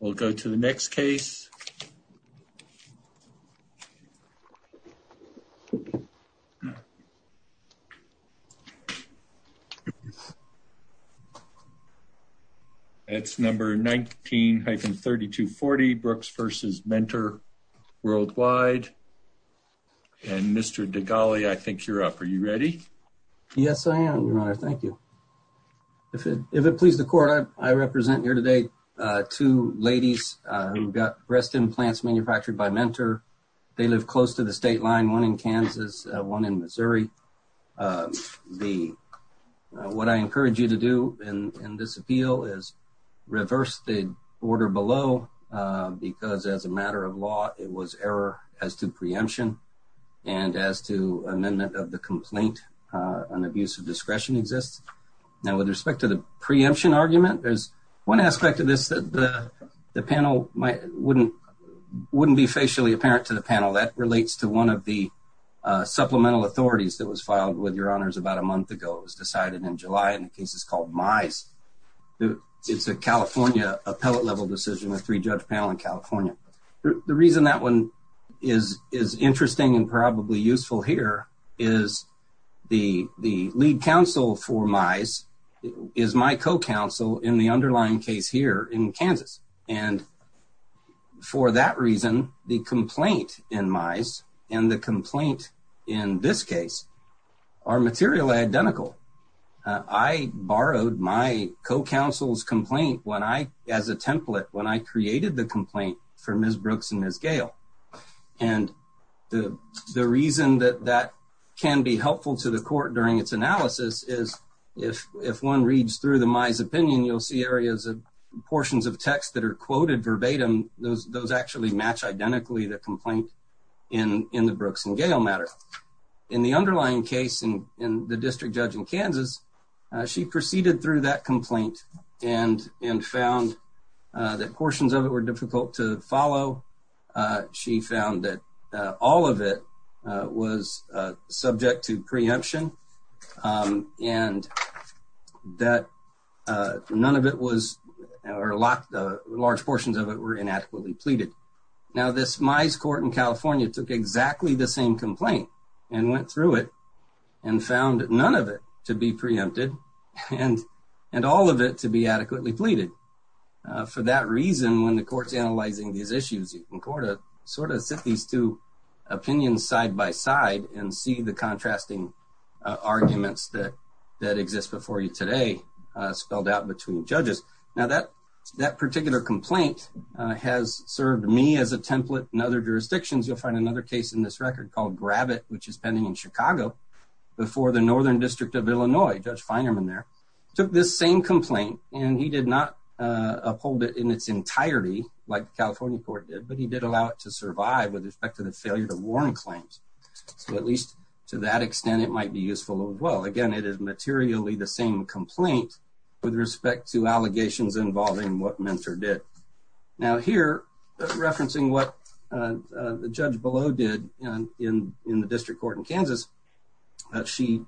We'll go to the next case. It's number 19-3240 Brooks v. Mentor Worldwide. And Mr. Degali, I think you're up. Are you ready? Yes, I am, Your Honor. Thank you. If it pleases the court, I represent here today two ladies who got breast implants manufactured by Mentor. They live close to the state line, one in Kansas, one in Missouri. What I encourage you to do in this appeal is reverse the order below, because as a matter of law, it was error as to preemption and as to amendment of the complaint, an abuse of discretion exists. Now, with respect to the preemption argument, there's one aspect of this that the panel wouldn't be facially apparent to the panel. That relates to one of the supplemental authorities that was filed with Your Honors about a month ago. It was decided in July, and the case is called Mize. It's a California appellate-level decision, a three-judge panel in California. The reason that one is interesting and probably useful here is the lead counsel for Mize is my co-counsel in the underlying case here in Kansas. And for that reason, the complaint in Mize and the complaint in this case are materially identical. I borrowed my co-counsel's complaint as a template when I created the complaint for Ms. Brooks and Ms. Gale. And the reason that that can be helpful to the court during its analysis is if one reads through the Mize opinion, you'll see areas of portions of text that are quoted verbatim. Those actually match identically the complaint in the Brooks and Gale matter. In the underlying case in the district judge in Kansas, she proceeded through that complaint and found that portions of it were difficult to follow. She found that all of it was subject to preemption and that none of it was, or large portions of it, were inadequately pleaded. Now, this Mize court in California took exactly the same complaint and went through it and found none of it to be preempted and all of it to be adequately pleaded. For that reason, when the court's analyzing these issues, you can go to sort of sit these two opinions side by side and see the contrasting arguments that exist before you today spelled out between judges. Now, that particular complaint has served me as a template in other jurisdictions. You'll find another case in this record called Grab It, which is pending in Chicago before the Northern District of Illinois. Judge Feinerman there took this same complaint and he did not uphold it in its entirety like the California court did, but he did allow it to survive with respect to the failure to warn claims. So at least to that extent, it might be useful. Well, again, it is materially the same complaint with respect to allegations involving what Mentor did. Now here, referencing what the judge below did in the district court in Kansas, in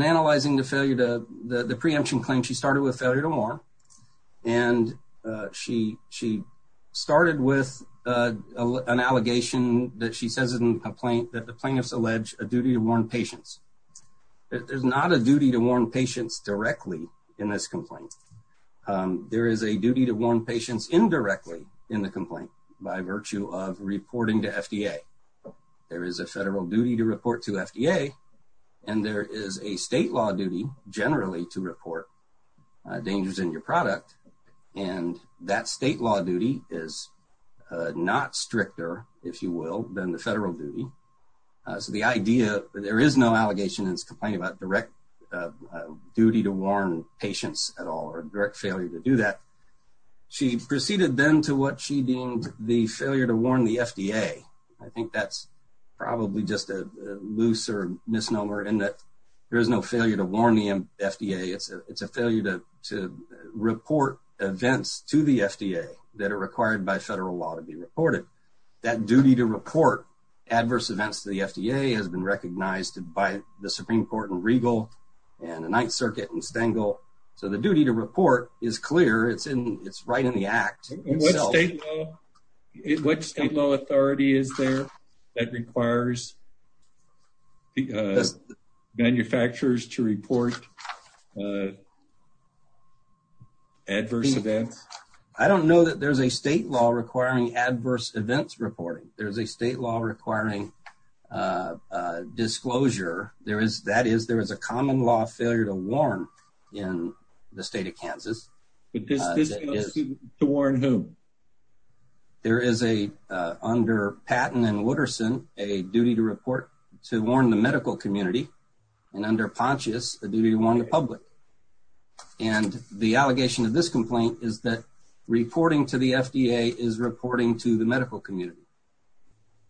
analyzing the preemption claim, she started with failure to warn. And she started with an allegation that she says in the complaint that the plaintiffs allege a duty to warn patients. There's not a duty to warn patients directly in this complaint. There is a duty to warn patients indirectly in the complaint by virtue of reporting to FDA. There is a federal duty to report to FDA and there is a state law duty generally to report dangers in your product. And that state law duty is not stricter, if you will, than the federal duty. So the idea, there is no allegation in this complaint about direct duty to warn patients at all or direct failure to do that. She proceeded then to what she deemed the failure to warn the FDA. I think that's probably just a looser misnomer in that there is no failure to warn the FDA. It's a failure to report events to the FDA that are required by federal law to be reported. That duty to report adverse events to the FDA has been recognized by the Supreme Court in Regal and the Ninth Circuit in Stengel. So the duty to report is clear. It's right in the act. What state law authority is there that requires manufacturers to report adverse events? I don't know that there's a state law requiring adverse events reporting. There's a state law requiring disclosure. There is, that is, there is a common law failure to warn in the state of Kansas. To warn whom? There is a, under Patton and Wooderson, a duty to report to warn the medical community. And the allegation of this complaint is that reporting to the FDA is reporting to the medical community.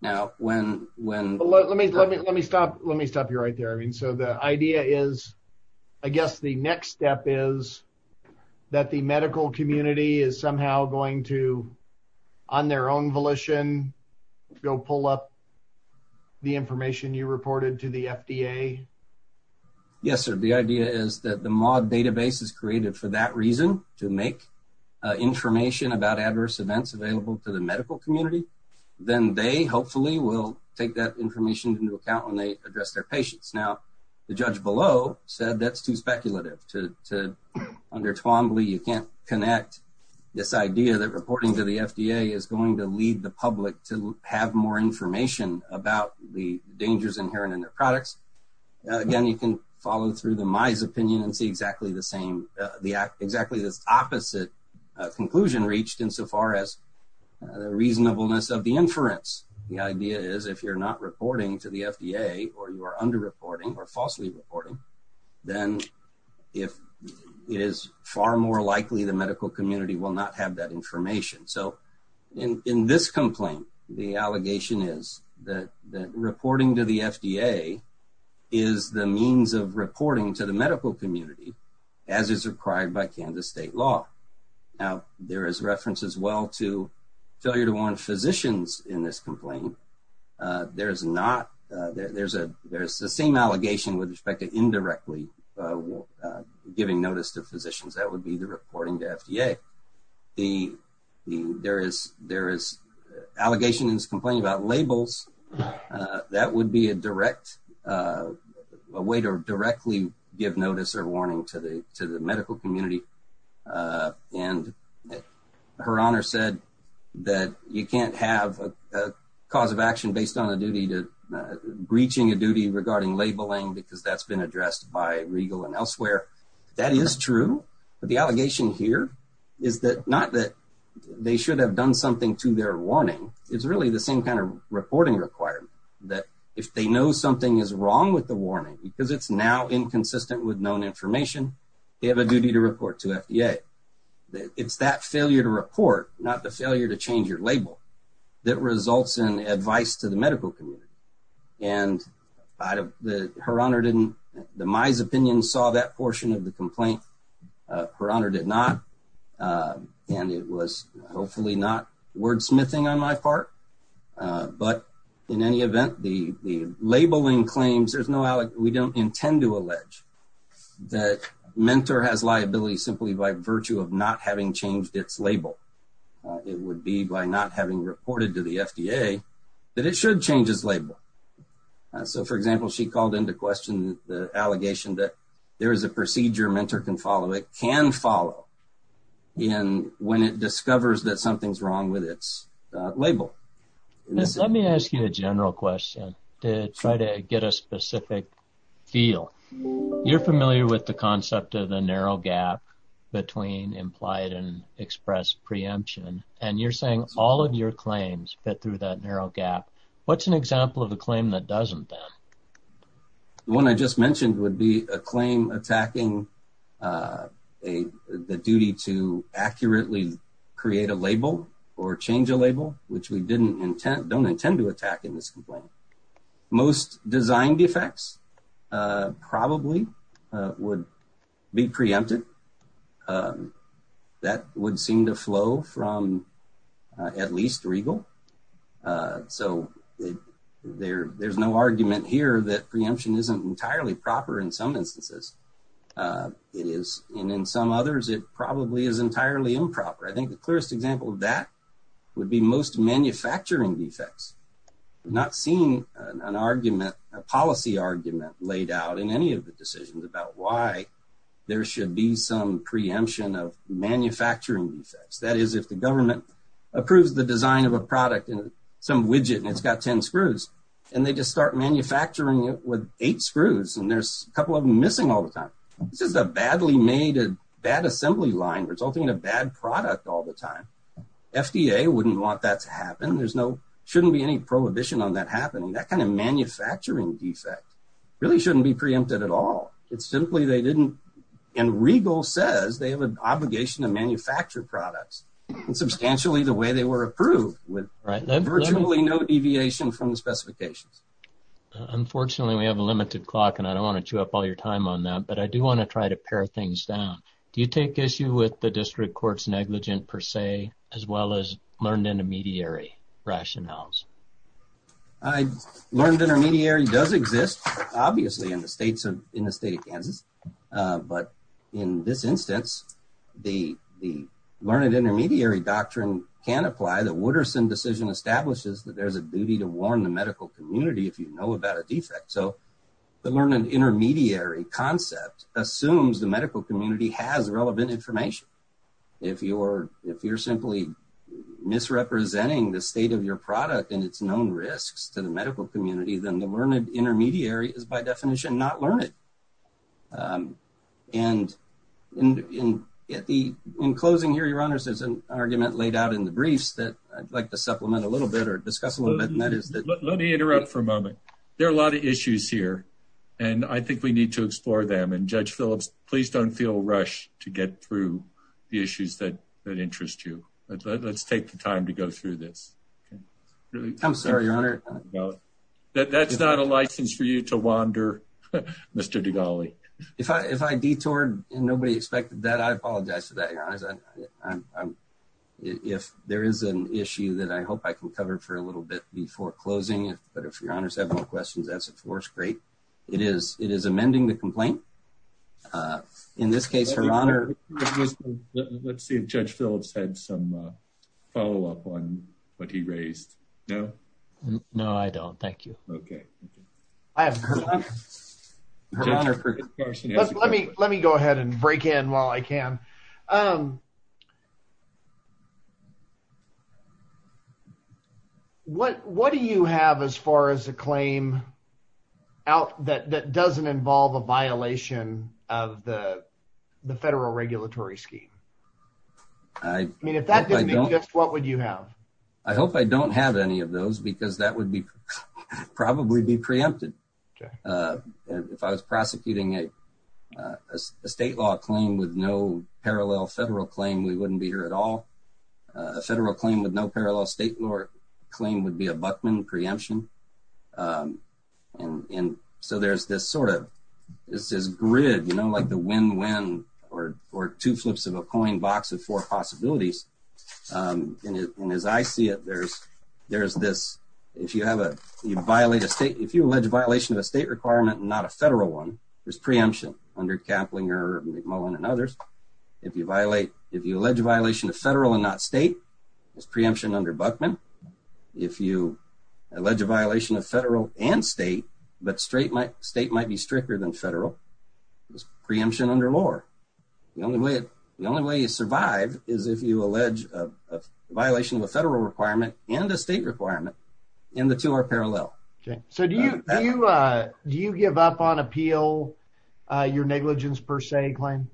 Now, when, when, let me, let me, let me stop. Let me stop you right there. I mean, so the idea is, I guess the next step is that the medical community is somehow going to, on their own volition, go pull up the information you reported to the FDA. Yes, sir. The idea is that the MAUD database is created for that reason, to make information about adverse events available to the medical community. Then they hopefully will take that information into account when they address their patients. Now, the judge below said that's too speculative to, to, under Twombly, you can't connect this idea that reporting to the FDA is going to lead the public to have more information about the dangers inherent in their products. Again, you can follow through the My's opinion and see exactly the same, exactly this opposite conclusion reached insofar as the reasonableness of the inference. The idea is if you're not reporting to the FDA or you are under-reporting or falsely reporting, then if it is far more likely the medical community will not have that information. So, in this complaint, the allegation is that reporting to the FDA is the means of reporting to the medical community as is required by Kansas state law. Now, there is reference as well to failure to warn physicians in this complaint. There is not, there's a, there's the same allegation with respect to indirectly giving notice to physicians. The, the, there is, there is allegations complaining about labels. That would be a direct, a way to directly give notice or warning to the, to the medical community. And her honor said that you can't have a cause of action based on a duty to breaching a duty regarding labeling because that's been addressed by Regal and elsewhere. That is true, but the allegation here is that, not that they should have done something to their warning. It's really the same kind of reporting requirement that if they know something is wrong with the warning because it's now inconsistent with known information, they have a duty to report to FDA. It's that failure to report, not the failure to change your label, that results in advice to the medical community. And her honor didn't, in my opinion, saw that portion of the complaint. Her honor did not. And it was hopefully not wordsmithing on my part. But in any event, the labeling claims, there's no, we don't intend to allege that Mentor has liability simply by virtue of not having changed its label. It would be by not having reported to the FDA that it should change its label. So, for example, she called into question the allegation that there is a procedure Mentor can follow, it can follow, when it discovers that something's wrong with its label. Let me ask you a general question to try to get a specific feel. You're familiar with the concept of the narrow gap between implied and expressed preemption, and you're saying all of your claims fit through that narrow gap. What's an example of a claim that doesn't, then? The one I just mentioned would be a claim attacking the duty to accurately create a label or change a label, which we didn't intend, don't intend to attack in this complaint. Most design defects probably would be preempted. That would seem to flow from at least regal. So, there's no argument here that preemption isn't entirely proper in some instances. It is, and in some others, it probably is entirely improper. I think the clearest example of that would be most manufacturing defects. I've not seen an argument, a policy argument laid out in any of the decisions about why there should be some preemption of manufacturing defects. That is, if the government approves the design of a product in some widget, and it's got 10 screws, and they just start manufacturing it with eight screws, and there's a couple of them missing all the time. This is a badly made, bad assembly line resulting in a bad product all the time. FDA wouldn't want that to happen. There shouldn't be any prohibition on that happening. That kind of manufacturing defect really shouldn't be preempted at all. It's simply they didn't, and regal says they have an obligation to manufacture products substantially the way they were approved with virtually no deviation from the specifications. Unfortunately, we have a limited clock, and I don't want to chew up all your time on that, but I do want to try to pare things down. Do you take issue with the district court's negligent per se, as well as learned intermediary rationales? Learned intermediary does exist, obviously, in the state of Kansas. In this instance, the learned intermediary doctrine can apply. The Wooderson decision establishes that there's a duty to warn the medical community if you know about a defect. The learned intermediary concept assumes the medical community has relevant information. If you're simply misrepresenting the state of your product and its known risks to the medical community, then the learned intermediary is by definition not learned. In closing, Your Honors, there's an argument laid out in the briefs that I'd like to supplement a little bit or discuss a little bit. Let me interrupt for a moment. There are a lot of issues here, and I think we need to explore them. Judge Phillips, please don't feel rushed to get through the issues that interest you. Let's take the time to go through this. I'm sorry, Your Honor. That's not a license for you to wander, Mr. Dugali. If I detoured and nobody expected that, I apologize for that, Your Honors. If there is an issue that I hope I can cover for a little bit before closing, but if Your Honors have no questions, that's of course great. It is amending the complaint. In this case, Your Honor... Let's see if Judge Phillips had some follow-up on what he raised. No, I don't. Thank you. Let me go ahead and break in while I can. What do you have as far as a claim that doesn't involve a violation of the federal regulatory scheme? If that didn't exist, what would you have? I hope I don't have any of those because that would probably be preempted. If I was prosecuting a state law claim with no parallel federal claim, we wouldn't be here at all. A federal claim with no parallel state law claim would be a Buckman preemption. So there's this sort of grid, you know, like the win-win or two flips of a coin box of four possibilities. And as I see it, there's this... If you allege a violation of a state requirement and not a federal one, there's preemption under Kaplinger, McMullen, and others. If you allege a violation of federal and not state, there's preemption under Buckman. If you allege a violation of federal and state, but state might be stricter than federal, there's preemption under Lohr. The only way you survive is if you allege a violation of a federal requirement and a state requirement and the two are parallel. So do you give up on appeal your negligence per se claim?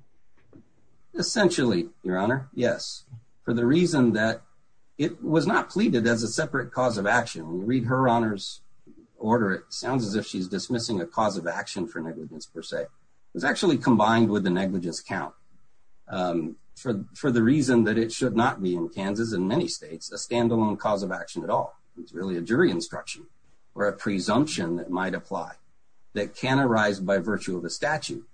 Essentially, Your Honor, yes. For the reason that it was not pleaded as a separate cause of action. When you read Her Honor's order, it sounds as if she's dismissing a cause of action for negligence per se. It's actually combined with the negligence count. For the reason that it should not be in Kansas, in many states, a standalone cause of action at all. It's really a jury instruction or a presumption that might apply that can arise by virtue of a statute.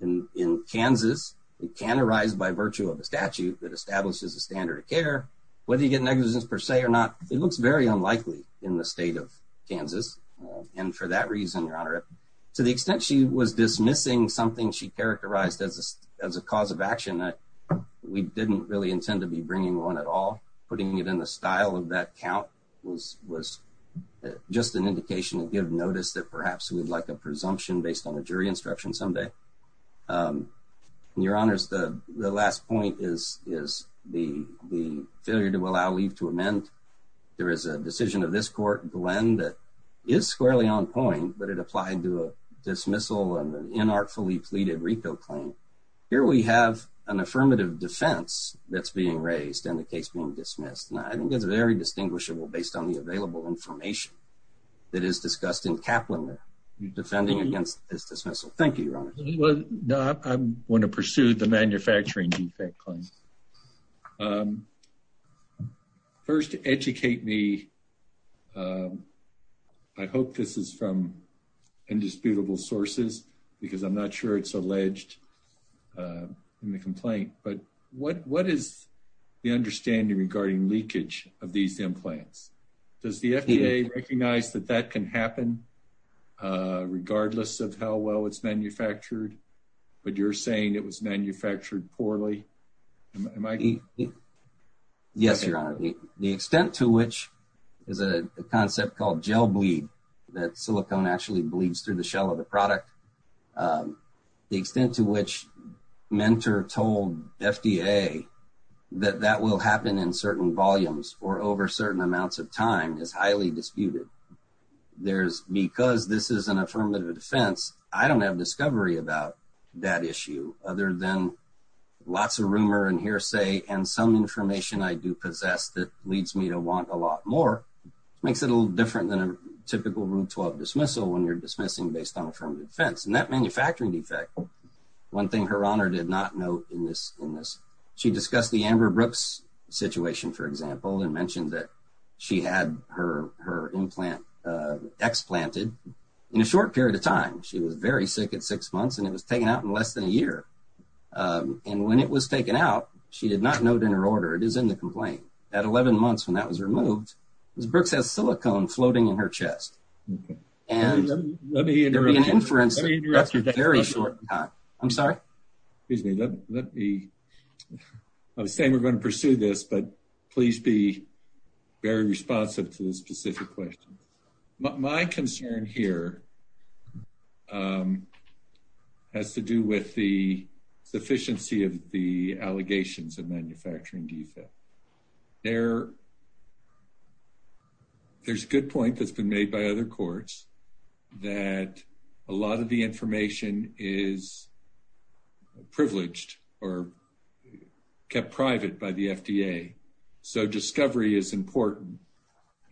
In Kansas, it can arise by virtue of a statute that establishes a standard of care. Whether you get negligence per se or not, it looks very unlikely in the state of Kansas. And for that reason, Your Honor, to the extent she was dismissing something she characterized as a cause of action, we didn't really intend to be bringing one at all. Putting it in the style of that count was just an indication to give notice that perhaps we'd like a presumption based on a jury instruction someday. Your Honors, the last point is the failure to allow leave to amend. There is a decision of this court, Glenn, that is squarely on point, but it applied to a dismissal and an inartfully pleaded RICO claim. Here we have an affirmative defense that's being raised and the case being dismissed. I think it's very distinguishable based on the available information that is discussed in Kaplan there. Defending against this dismissal. Thank you, Your Honor. I'm going to pursue the manufacturing defect claim. First, educate me. I hope this is from indisputable sources because I'm not sure it's alleged in the complaint, but what is the understanding regarding leakage of these implants? Does the FDA recognize that that can happen regardless of how well it's manufactured, but you're saying it was manufactured poorly? Yes, Your Honor. The extent to which there's a concept called gel bleed, that silicone actually bleeds through the shell of the product. The extent to which Mentor told FDA that that will happen in certain volumes or over certain amounts of time is highly disputed. Because this is an affirmative defense, I don't have discovery about that issue other than lots of rumor and hearsay and some information I do possess that leads me to want a lot more. Makes it a little different than a typical Route 12 dismissal when you're dismissing based on affirmative defense. And that manufacturing defect, one thing Her Honor did not note in this, she discussed the Amber Brooks situation, for example, and mentioned that she had her implant explanted in a short period of time. She was very sick at six months and it was taken out in less than a year. And when it was taken out, she did not note in her order. It is in the complaint. At 11 months when that was removed, Ms. Brooks has silicone floating in her chest. And there'd be an inference that that's a very short time. I'm sorry? Excuse me. I was saying we're going to pursue this, but please be very responsive to the specific questions. My concern here has to do with the sufficiency of the allegations of manufacturing defect. There's a good point that's been made by other courts that a lot of the information is privileged or kept private by the FDA. So discovery is important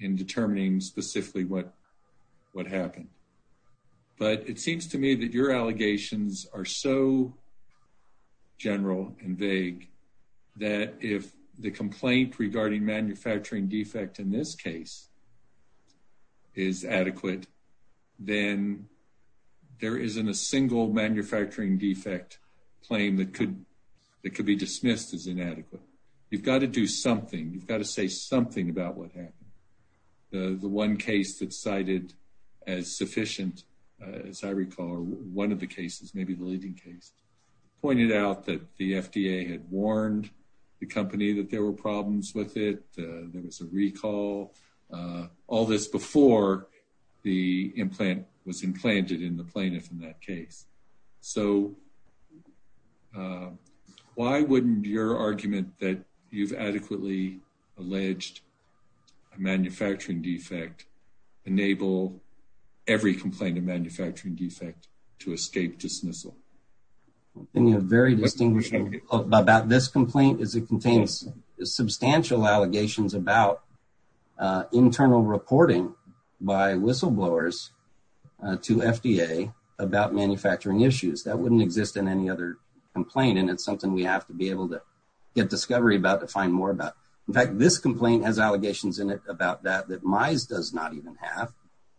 in determining specifically what happened. But it seems to me that your allegations are so general and vague that if the complaint regarding manufacturing defect in this case is adequate, then there isn't a single manufacturing defect claim that could be dismissed as inadequate. You've got to do something. You've got to say something about what happened. The one case that cited as sufficient, as I recall, or one of the cases, maybe the leading case, pointed out that the FDA had warned the company that there were problems with it. There was a recall. All this before the implant was implanted in the plaintiff in that case. So why wouldn't your argument that you've adequately alleged a manufacturing defect enable every complaint of manufacturing defect to escape dismissal? I think a very distinguishing about this complaint is it contains substantial allegations about internal reporting by whistleblowers to FDA about manufacturing issues. That wouldn't exist in any other complaint. And it's something we have to be able to get discovery about to find more about. In fact, this complaint has allegations in it about that that MISE does not even have.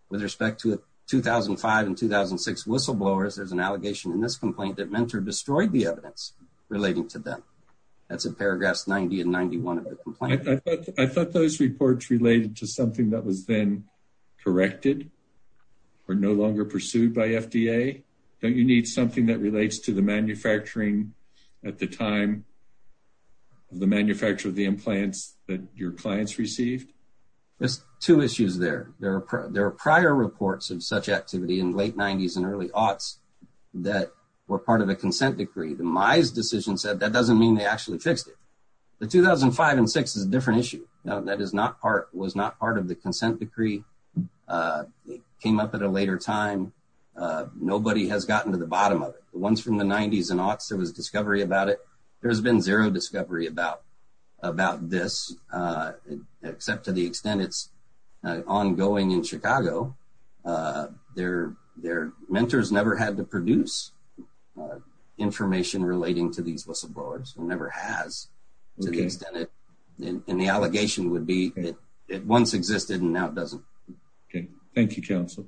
With respect to 2005 and 2006 whistleblowers, there's an allegation in this complaint that Mentor destroyed the evidence relating to them. That's in paragraphs 90 and 91 of the complaint. I thought those reports related to something that was then corrected or no longer pursued by FDA. Don't you need something that relates to the manufacturing at the time of the manufacture of the implants that your clients received? There's two issues there. There are prior reports of such activity in late 90s and early aughts that were part of a consent decree. The MISE decision said that doesn't mean they actually fixed it. The 2005 and 2006 is a different issue. That was not part of the consent decree. It came up at a later time. Nobody has gotten to the bottom of it. The ones from the 90s and aughts, there was a discovery about it. There's been zero discovery about this, except to the extent it's ongoing in Chicago. Their mentors never had to produce information relating to these whistleblowers. It never has to the extent. The allegation would be that it once existed and now it doesn't. Thank you, counsel.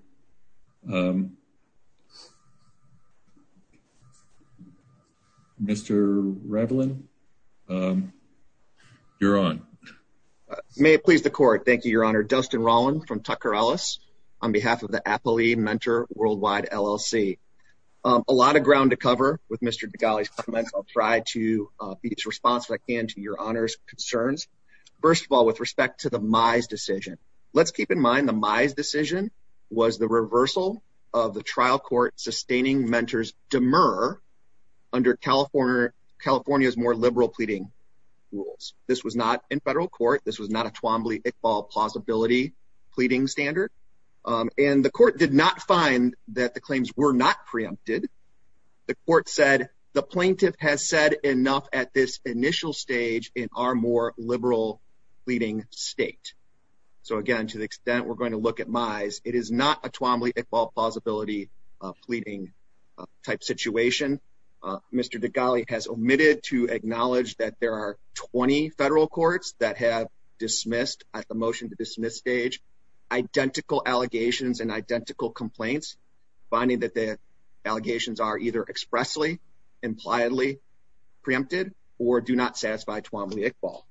Mr. Ravelin, you're on. May it please the court. Thank you, your honor. Dustin Rolland from Tucker Ellis on behalf of the Appalachian Mentor Worldwide LLC. A lot of ground to cover with Mr. Degali's comments. I'll try to be as responsive as I can to your honors. First of all, with respect to the Mize decision. Let's keep in mind the Mize decision was the reversal of the trial court sustaining mentors demur under California's more liberal pleading rules. This was not in federal court. This was not a Twombly-Iqbal plausibility pleading standard. The court did not find that the claims were not preempted. The court said, the plaintiff has said enough at this initial stage in our more liberal pleading state. So again, to the extent we're going to look at Mize, it is not a Twombly-Iqbal plausibility pleading type situation. Mr. Degali has omitted to acknowledge that there are 20 federal courts that have dismissed at the motion to dismiss stage identical allegations and identical complaints finding that the allegations are either expressly, impliedly preempted, or do not satisfy Twombly-Iqbal.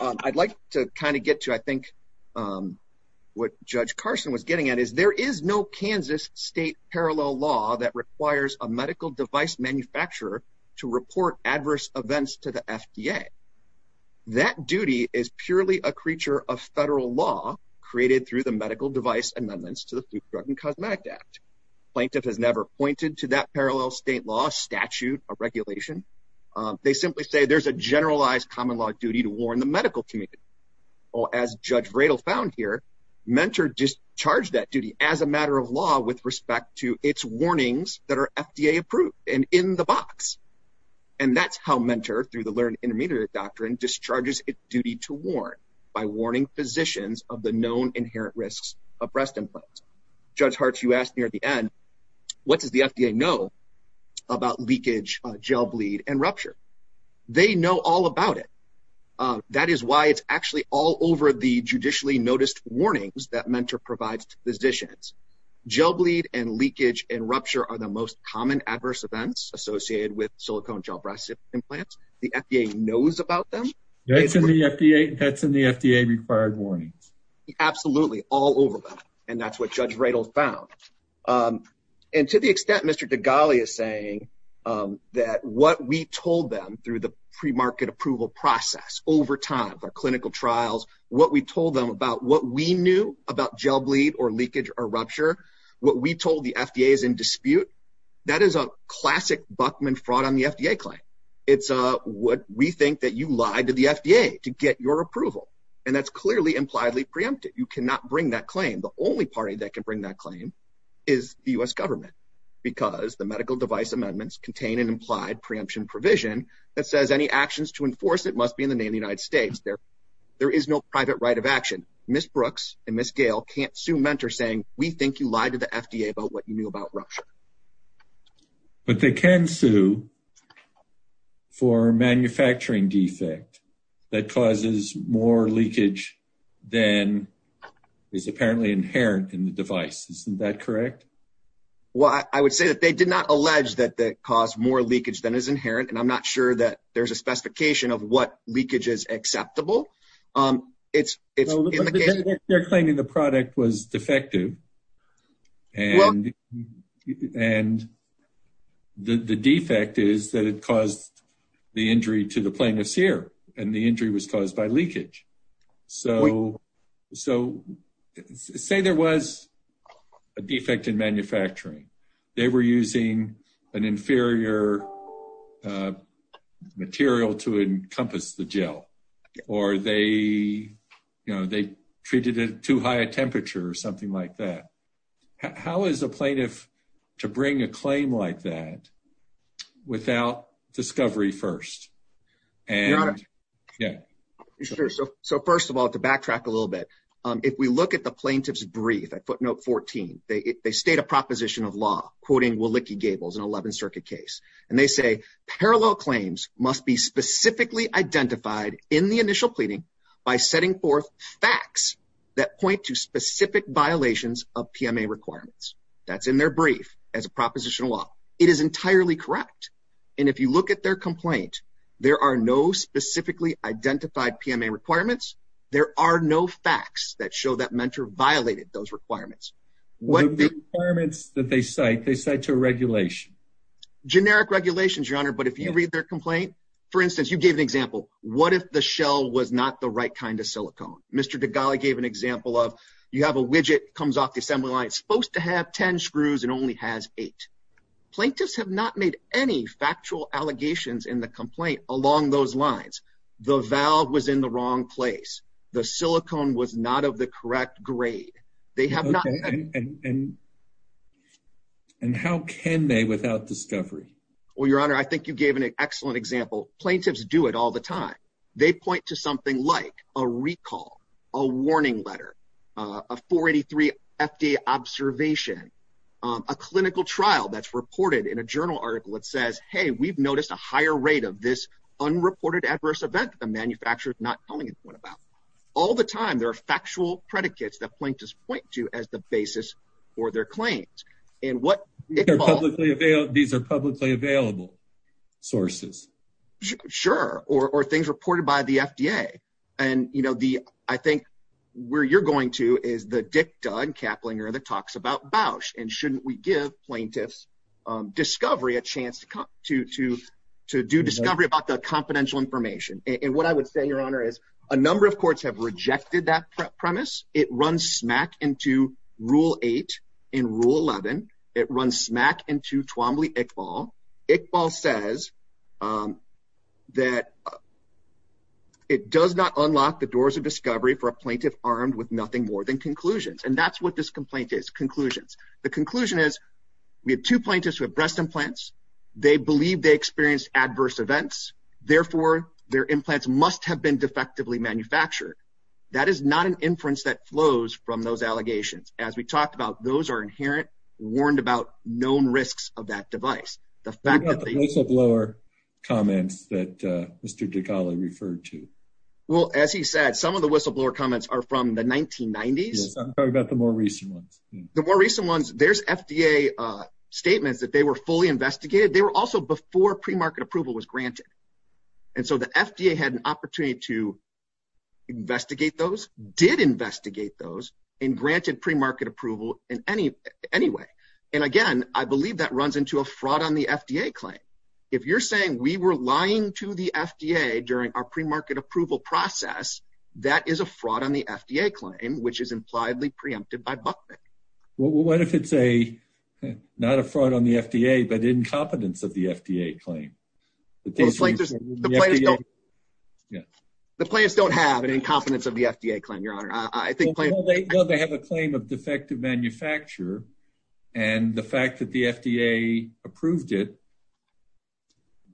I'd like to kind of get to, I think, what Judge Carson was getting at is there is no Kansas state parallel law that requires a medical device manufacturer to report adverse events to the FDA. That duty is purely a creature of federal law created through the medical device amendments to the Food, Drug, and Cosmetic Act. Plaintiff has never pointed to that parallel state law as a statute, a regulation. They simply say there's a generalized common law duty to warn the medical community. As Judge Vredel found here, Mentor discharged that duty as a matter of law with respect to its warnings that are FDA approved and in the box. And that's how Mentor, through the Learn Intermediate Doctrine, discharges its duty to warn by warning physicians of the known inherent risks of breast implants. Judge Hart, you asked me at the end, what does the FDA know about leakage, gel bleed, and rupture? They know all about it. That is why it's actually all over the judicially noticed warnings that Mentor provides to physicians. Gel bleed and leakage and rupture are the most common adverse events associated with silicone gel breast implants. The FDA knows about them. That's in the FDA required warnings. Absolutely, all over them. And that's what Judge Vredel found. And to the extent Mr. Degali is saying that what we told them through the pre-market approval process over time, our clinical trials, what we told them about what we knew about gel bleed or leakage or rupture, what we told the FDA is in dispute, that is a classic Buckman fraud on the FDA claim. It's what we think that you lied to the FDA to get your approval. And that's clearly impliedly preempted. You cannot bring that claim. The only party that can bring that claim is the U.S. government because the medical device amendments contain an implied preemption provision that says any actions to enforce it must be in the name of the United States. There is no private right of action. Ms. Brooks and Ms. Gale can't sue Mentor saying we think you lied to the FDA about what you knew about rupture. But they can sue for manufacturing defect that causes more leakage than is apparently inherent in the device. Isn't that correct? Well, I would say that they did not allege that it caused more leakage than is inherent and I'm not sure that there's a specification of what leakage is acceptable. It's in the case... They're claiming the product was defective and the defect is that it caused the injury to the plane of sear and the injury was caused by leakage. So say there was a defect in manufacturing. They were using an inferior material to encompass the gel or they treated it too high a temperature or something like that. How is a plaintiff to bring a claim like that without discovery first? Your Honor, So first of all, to backtrack a little bit, if we look at the plaintiff's brief at footnote 14, they state a proposition of law quoting Willicke-Gables in 11th Circuit case and they say parallel claims must be specifically identified in the initial pleading by setting forth facts that point to specific violations of PMA requirements. That's in their brief as a proposition of law. It is entirely correct and if you look at their complaint, there are no specifically identified PMA requirements. There are no facts that show that mentor violated those requirements. The requirements that they cite, they cite to a regulation. Generic regulations, Your Honor, but if you read their complaint, for instance, you gave an example. What if the shell was not the right kind of silicone? Mr. Degali gave an example of you have a widget comes off the assembly line supposed to have 10 screws and only has eight. Plaintiffs have not made any factual allegations in the complaint along those lines. The valve was in the wrong place. The silicone was not of the correct grade. They have not. And how can they without discovery? Well, Your Honor, I think you gave an excellent example. Plaintiffs do it all the time. They point to something like a recall, a warning letter, a 483 FDA observation, a clinical trial, that's reported in a journal article. It says, hey, we've noticed a higher rate of this unreported adverse event. The manufacturer is not telling anyone about all the time. There are factual predicates that plaintiffs point to as the basis for their claims and what they're publicly available. These are publicly available sources. Sure. Or things reported by the FDA. And, you know, the I think where you're going to go to is the dicta and Kaplinger that talks about Bausch. And shouldn't we give plaintiffs discovery a chance to to do discovery about the confidential information? And what I would say, Your Honor, is a number of courts have rejected that premise. It runs smack into Rule 8 and Rule 11. It runs smack into Twombly-Iqbal. Iqbal says that it does not unlock the doors of discovery for a plaintiff armed with nothing more than conclusions. And that's what this complaint is. Conclusions. The conclusion is we have two plaintiffs with breast implants. They believe they experienced adverse events. Therefore, their implants must have been defectively manufactured. That is not an inference that flows from those allegations. As we talked about, those are inherent, warned about known risks of that device. The whistleblower comments that Mr. DiGale referred to. Well, as he said, some of the whistleblower comments are from the 1990s. I'm talking about the more recent ones. The more recent ones. There's FDA statements that they were fully investigated. They were also before premarket approval was granted. And so the FDA had an opportunity to investigate those, did investigate those, and granted premarket approval in any way. And again, I believe that runs into a fraud on the FDA claim. If you're saying we were lying to the FDA during our premarket approval process, that is a fraud on the FDA claim, which is impliedly preempted by Buckman. Well, what if it's a, not a fraud on the FDA, but incompetence of the FDA claim? The plaintiffs don't have an incompetence of the FDA claim, Your Honor. They have a claim of defective manufacture. And the fact that the FDA approved it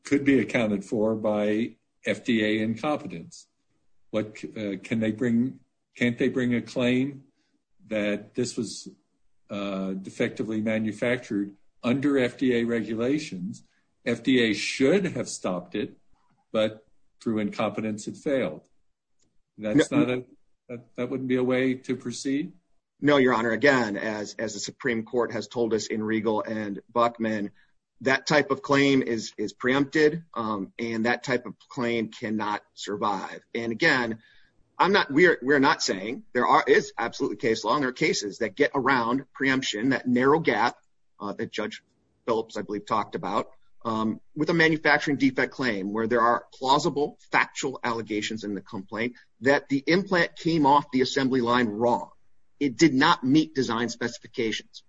could be accounted for by FDA incompetence. What can they bring? Can't they bring a claim that this was defectively manufactured under FDA regulations? FDA should have stopped it, but through incompetence, it failed. That wouldn't be a way to proceed? No, Your Honor. Again, as the Supreme Court has told us in Regal and Buckman, that type of claim is preempted, and that type of claim cannot survive. And again, we're not saying there is absolutely case law, and there are cases that get around preemption, that narrow gap that Judge Phillips, I believe, talked about with a manufacturing defect claim where there are plausible, factual allegations in the complaint that the implant came off the assembly line wrong. It did not meet design specifications.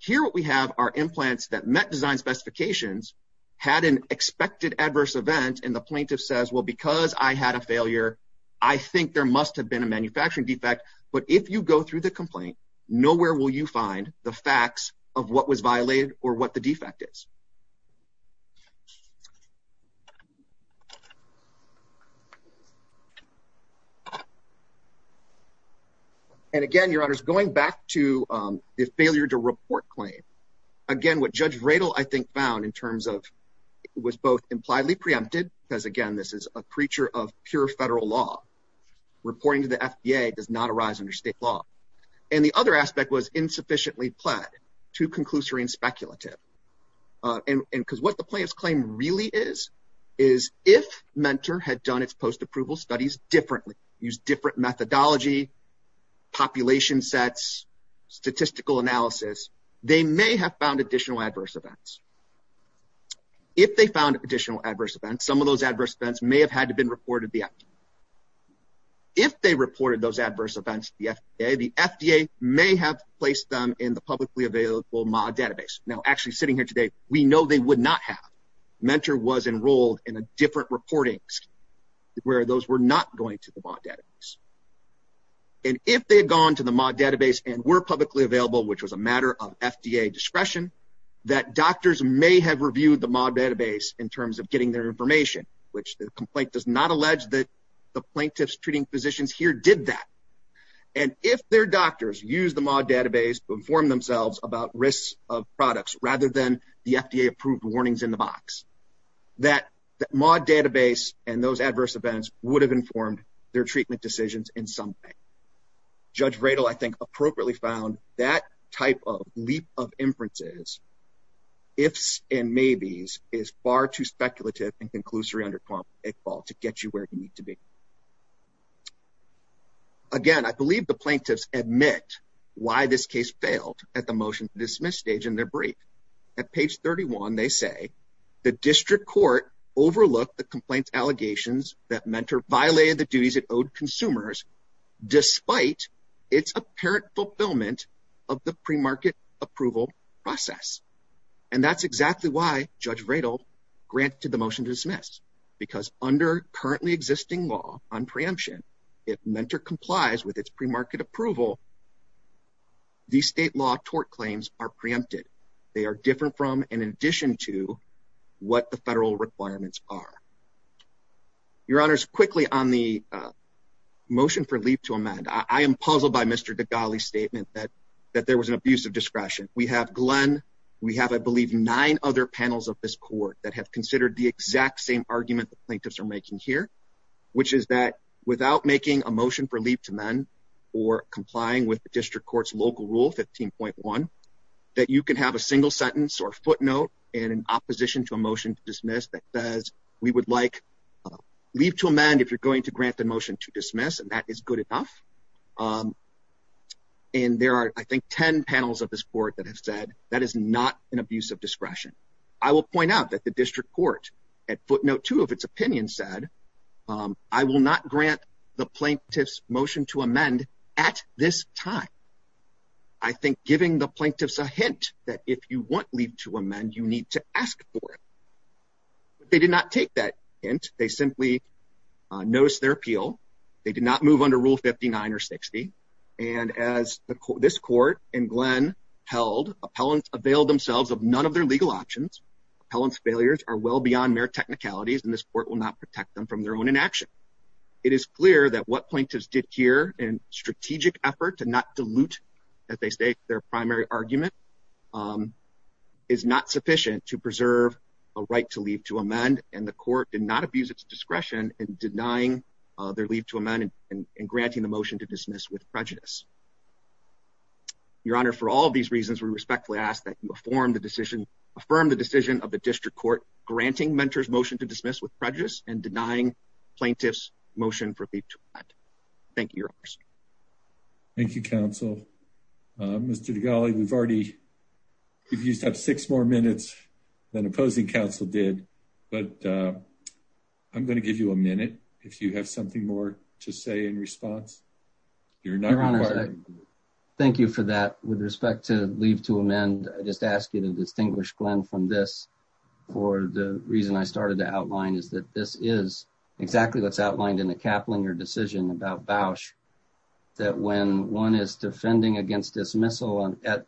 Here what we have are implants that meet design specifications, had an expected adverse event, and the plaintiff says, well, because I had a failure, I think there must have been a manufacturing defect. But if you go through the complaint, nowhere will you find the facts of what was violated or what the defect is. And again, Your Honor, going back to the failure to report claim, again, what Judge Vredel, I think, found in terms of, it was both impliedly preempted, because again, this is a preacher of pure federal law. Reporting to the FDA does not arise under state law. And the other aspect was insufficiently pled, too conclusory and speculative. And because what the plaintiff's claim really is, is if Mentor had done its post-approval studies differently, used different methodology, population sets, statistical analysis, they may have found additional adverse events. If they found additional adverse events, some of those adverse events may have had to be reported to the FDA. If they reported those adverse events to the FDA, the FDA may have placed them in the publicly available MAA database. Now, actually sitting here today, we know they would not have. Mentor was enrolled in a different MAA database. And if they had gone to the MAA database and were publicly available, which was a matter of FDA discretion, that doctors may have reviewed the MAA database in terms of getting their information, which the complaint does not allege that the plaintiff's treating physicians here did that. And if their doctors used the MAA database to inform themselves about risks of products rather than the FDA approved warnings in the box, that MAA database and those adverse events would have informed their treatment decisions in some way. Judge Vredel, I think, appropriately found that type of leap of inferences, ifs and maybes, is far too speculative and conclusory under a fall to get you where you need to be. Again, I believe the plaintiffs admit why this case failed at the motion to dismiss stage in their brief. At page 31, they say, the district court overlooked the complaint's allegations that Mentor violated the duties it owed consumers, despite its apparent fulfillment of the premarket approval process. And that's exactly why Judge Vredel granted the motion to dismiss, because under currently existing law on preemption, if Mentor complies with its premarket approval, these state law tort claims are preempted. They are different from and in addition to what the federal requirements are. Your Honors, quickly on the motion for leap to amend, I am puzzled by Mr. Degali's statement that there was an abuse of discretion. We have Glenn, we have, I believe, nine other panels of this court that have considered the exact same argument the plaintiffs are making here, which is that without making a motion for leap to amend or complying with the district court's local rule, 15.1, that you can have a single sentence or footnote in opposition to a motion to dismiss that says we would like leap to amend if you're going to grant the motion to dismiss, and that is good enough. And there are, I think, 10 panels of this court that have said that is not an abuse of discretion. I will point out that the district court at footnote two of its opinion said, I will not grant the plaintiff's motion to amend at this time. I think giving the plaintiffs a hint that if you want leap to amend, you need to ask for it. They did not take that hint. They simply noticed their appeal. They did not move under rule 59 or 60. And as this court and Glenn held, appellants availed themselves of none of their legal options. Appellant's failures are well beyond mere technicalities, and this court will not protect them from their own inaction. It is clear that what plaintiffs did here in strategic effort to not dilute, as they state, their primary argument is not sufficient to preserve a right to leave to amend. And the court did not abuse its discretion in denying their leave to amend and granting the motion to dismiss with prejudice. Your Honor, for all of these reasons, we respectfully ask that you affirm the decision of the district court granting mentors motion to dismiss with prejudice and denying plaintiffs motion for leave to amend. Thank you, Your Honor. Thank you very much. Thank you, counsel. Mr. Dugali, we've already, we've used up six more minutes than opposing counsel did, but I'm going to give you a minute if you have something more to say in response. Your Honor, thank you for that. With respect to leave to amend, I just ask you to distinguish Glenn from this for the reason I started to outline is that this is exactly what's outlined in the Kaplinger decision about Bausch. That when one is defending against dismissal that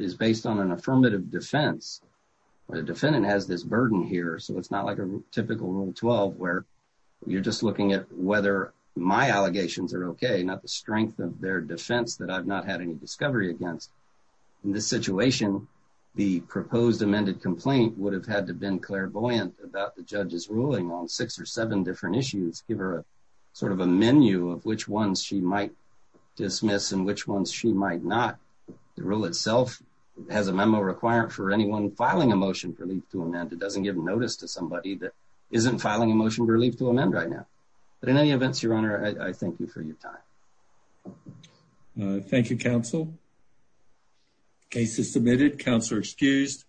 is based on an affirmative defense, the defendant has this burden here, so it's not like a typical Rule 12 where you're just looking at whether my allegations are okay, not the strength of their defense that I've not had any discovery against. In this situation, the proposed amended complaint would have had to have been clairvoyant about the judge's ruling on six or seven different issues and give her sort of a menu of which ones she might dismiss and which ones she might not. The rule itself has a memo requiring for anyone filing a motion for leave to amend. It doesn't give notice to somebody that isn't filing a motion for leave to amend right now. But in any events, Your Honor, I thank you for your time. Thank you, counsel. Case is submitted. Counselor excused.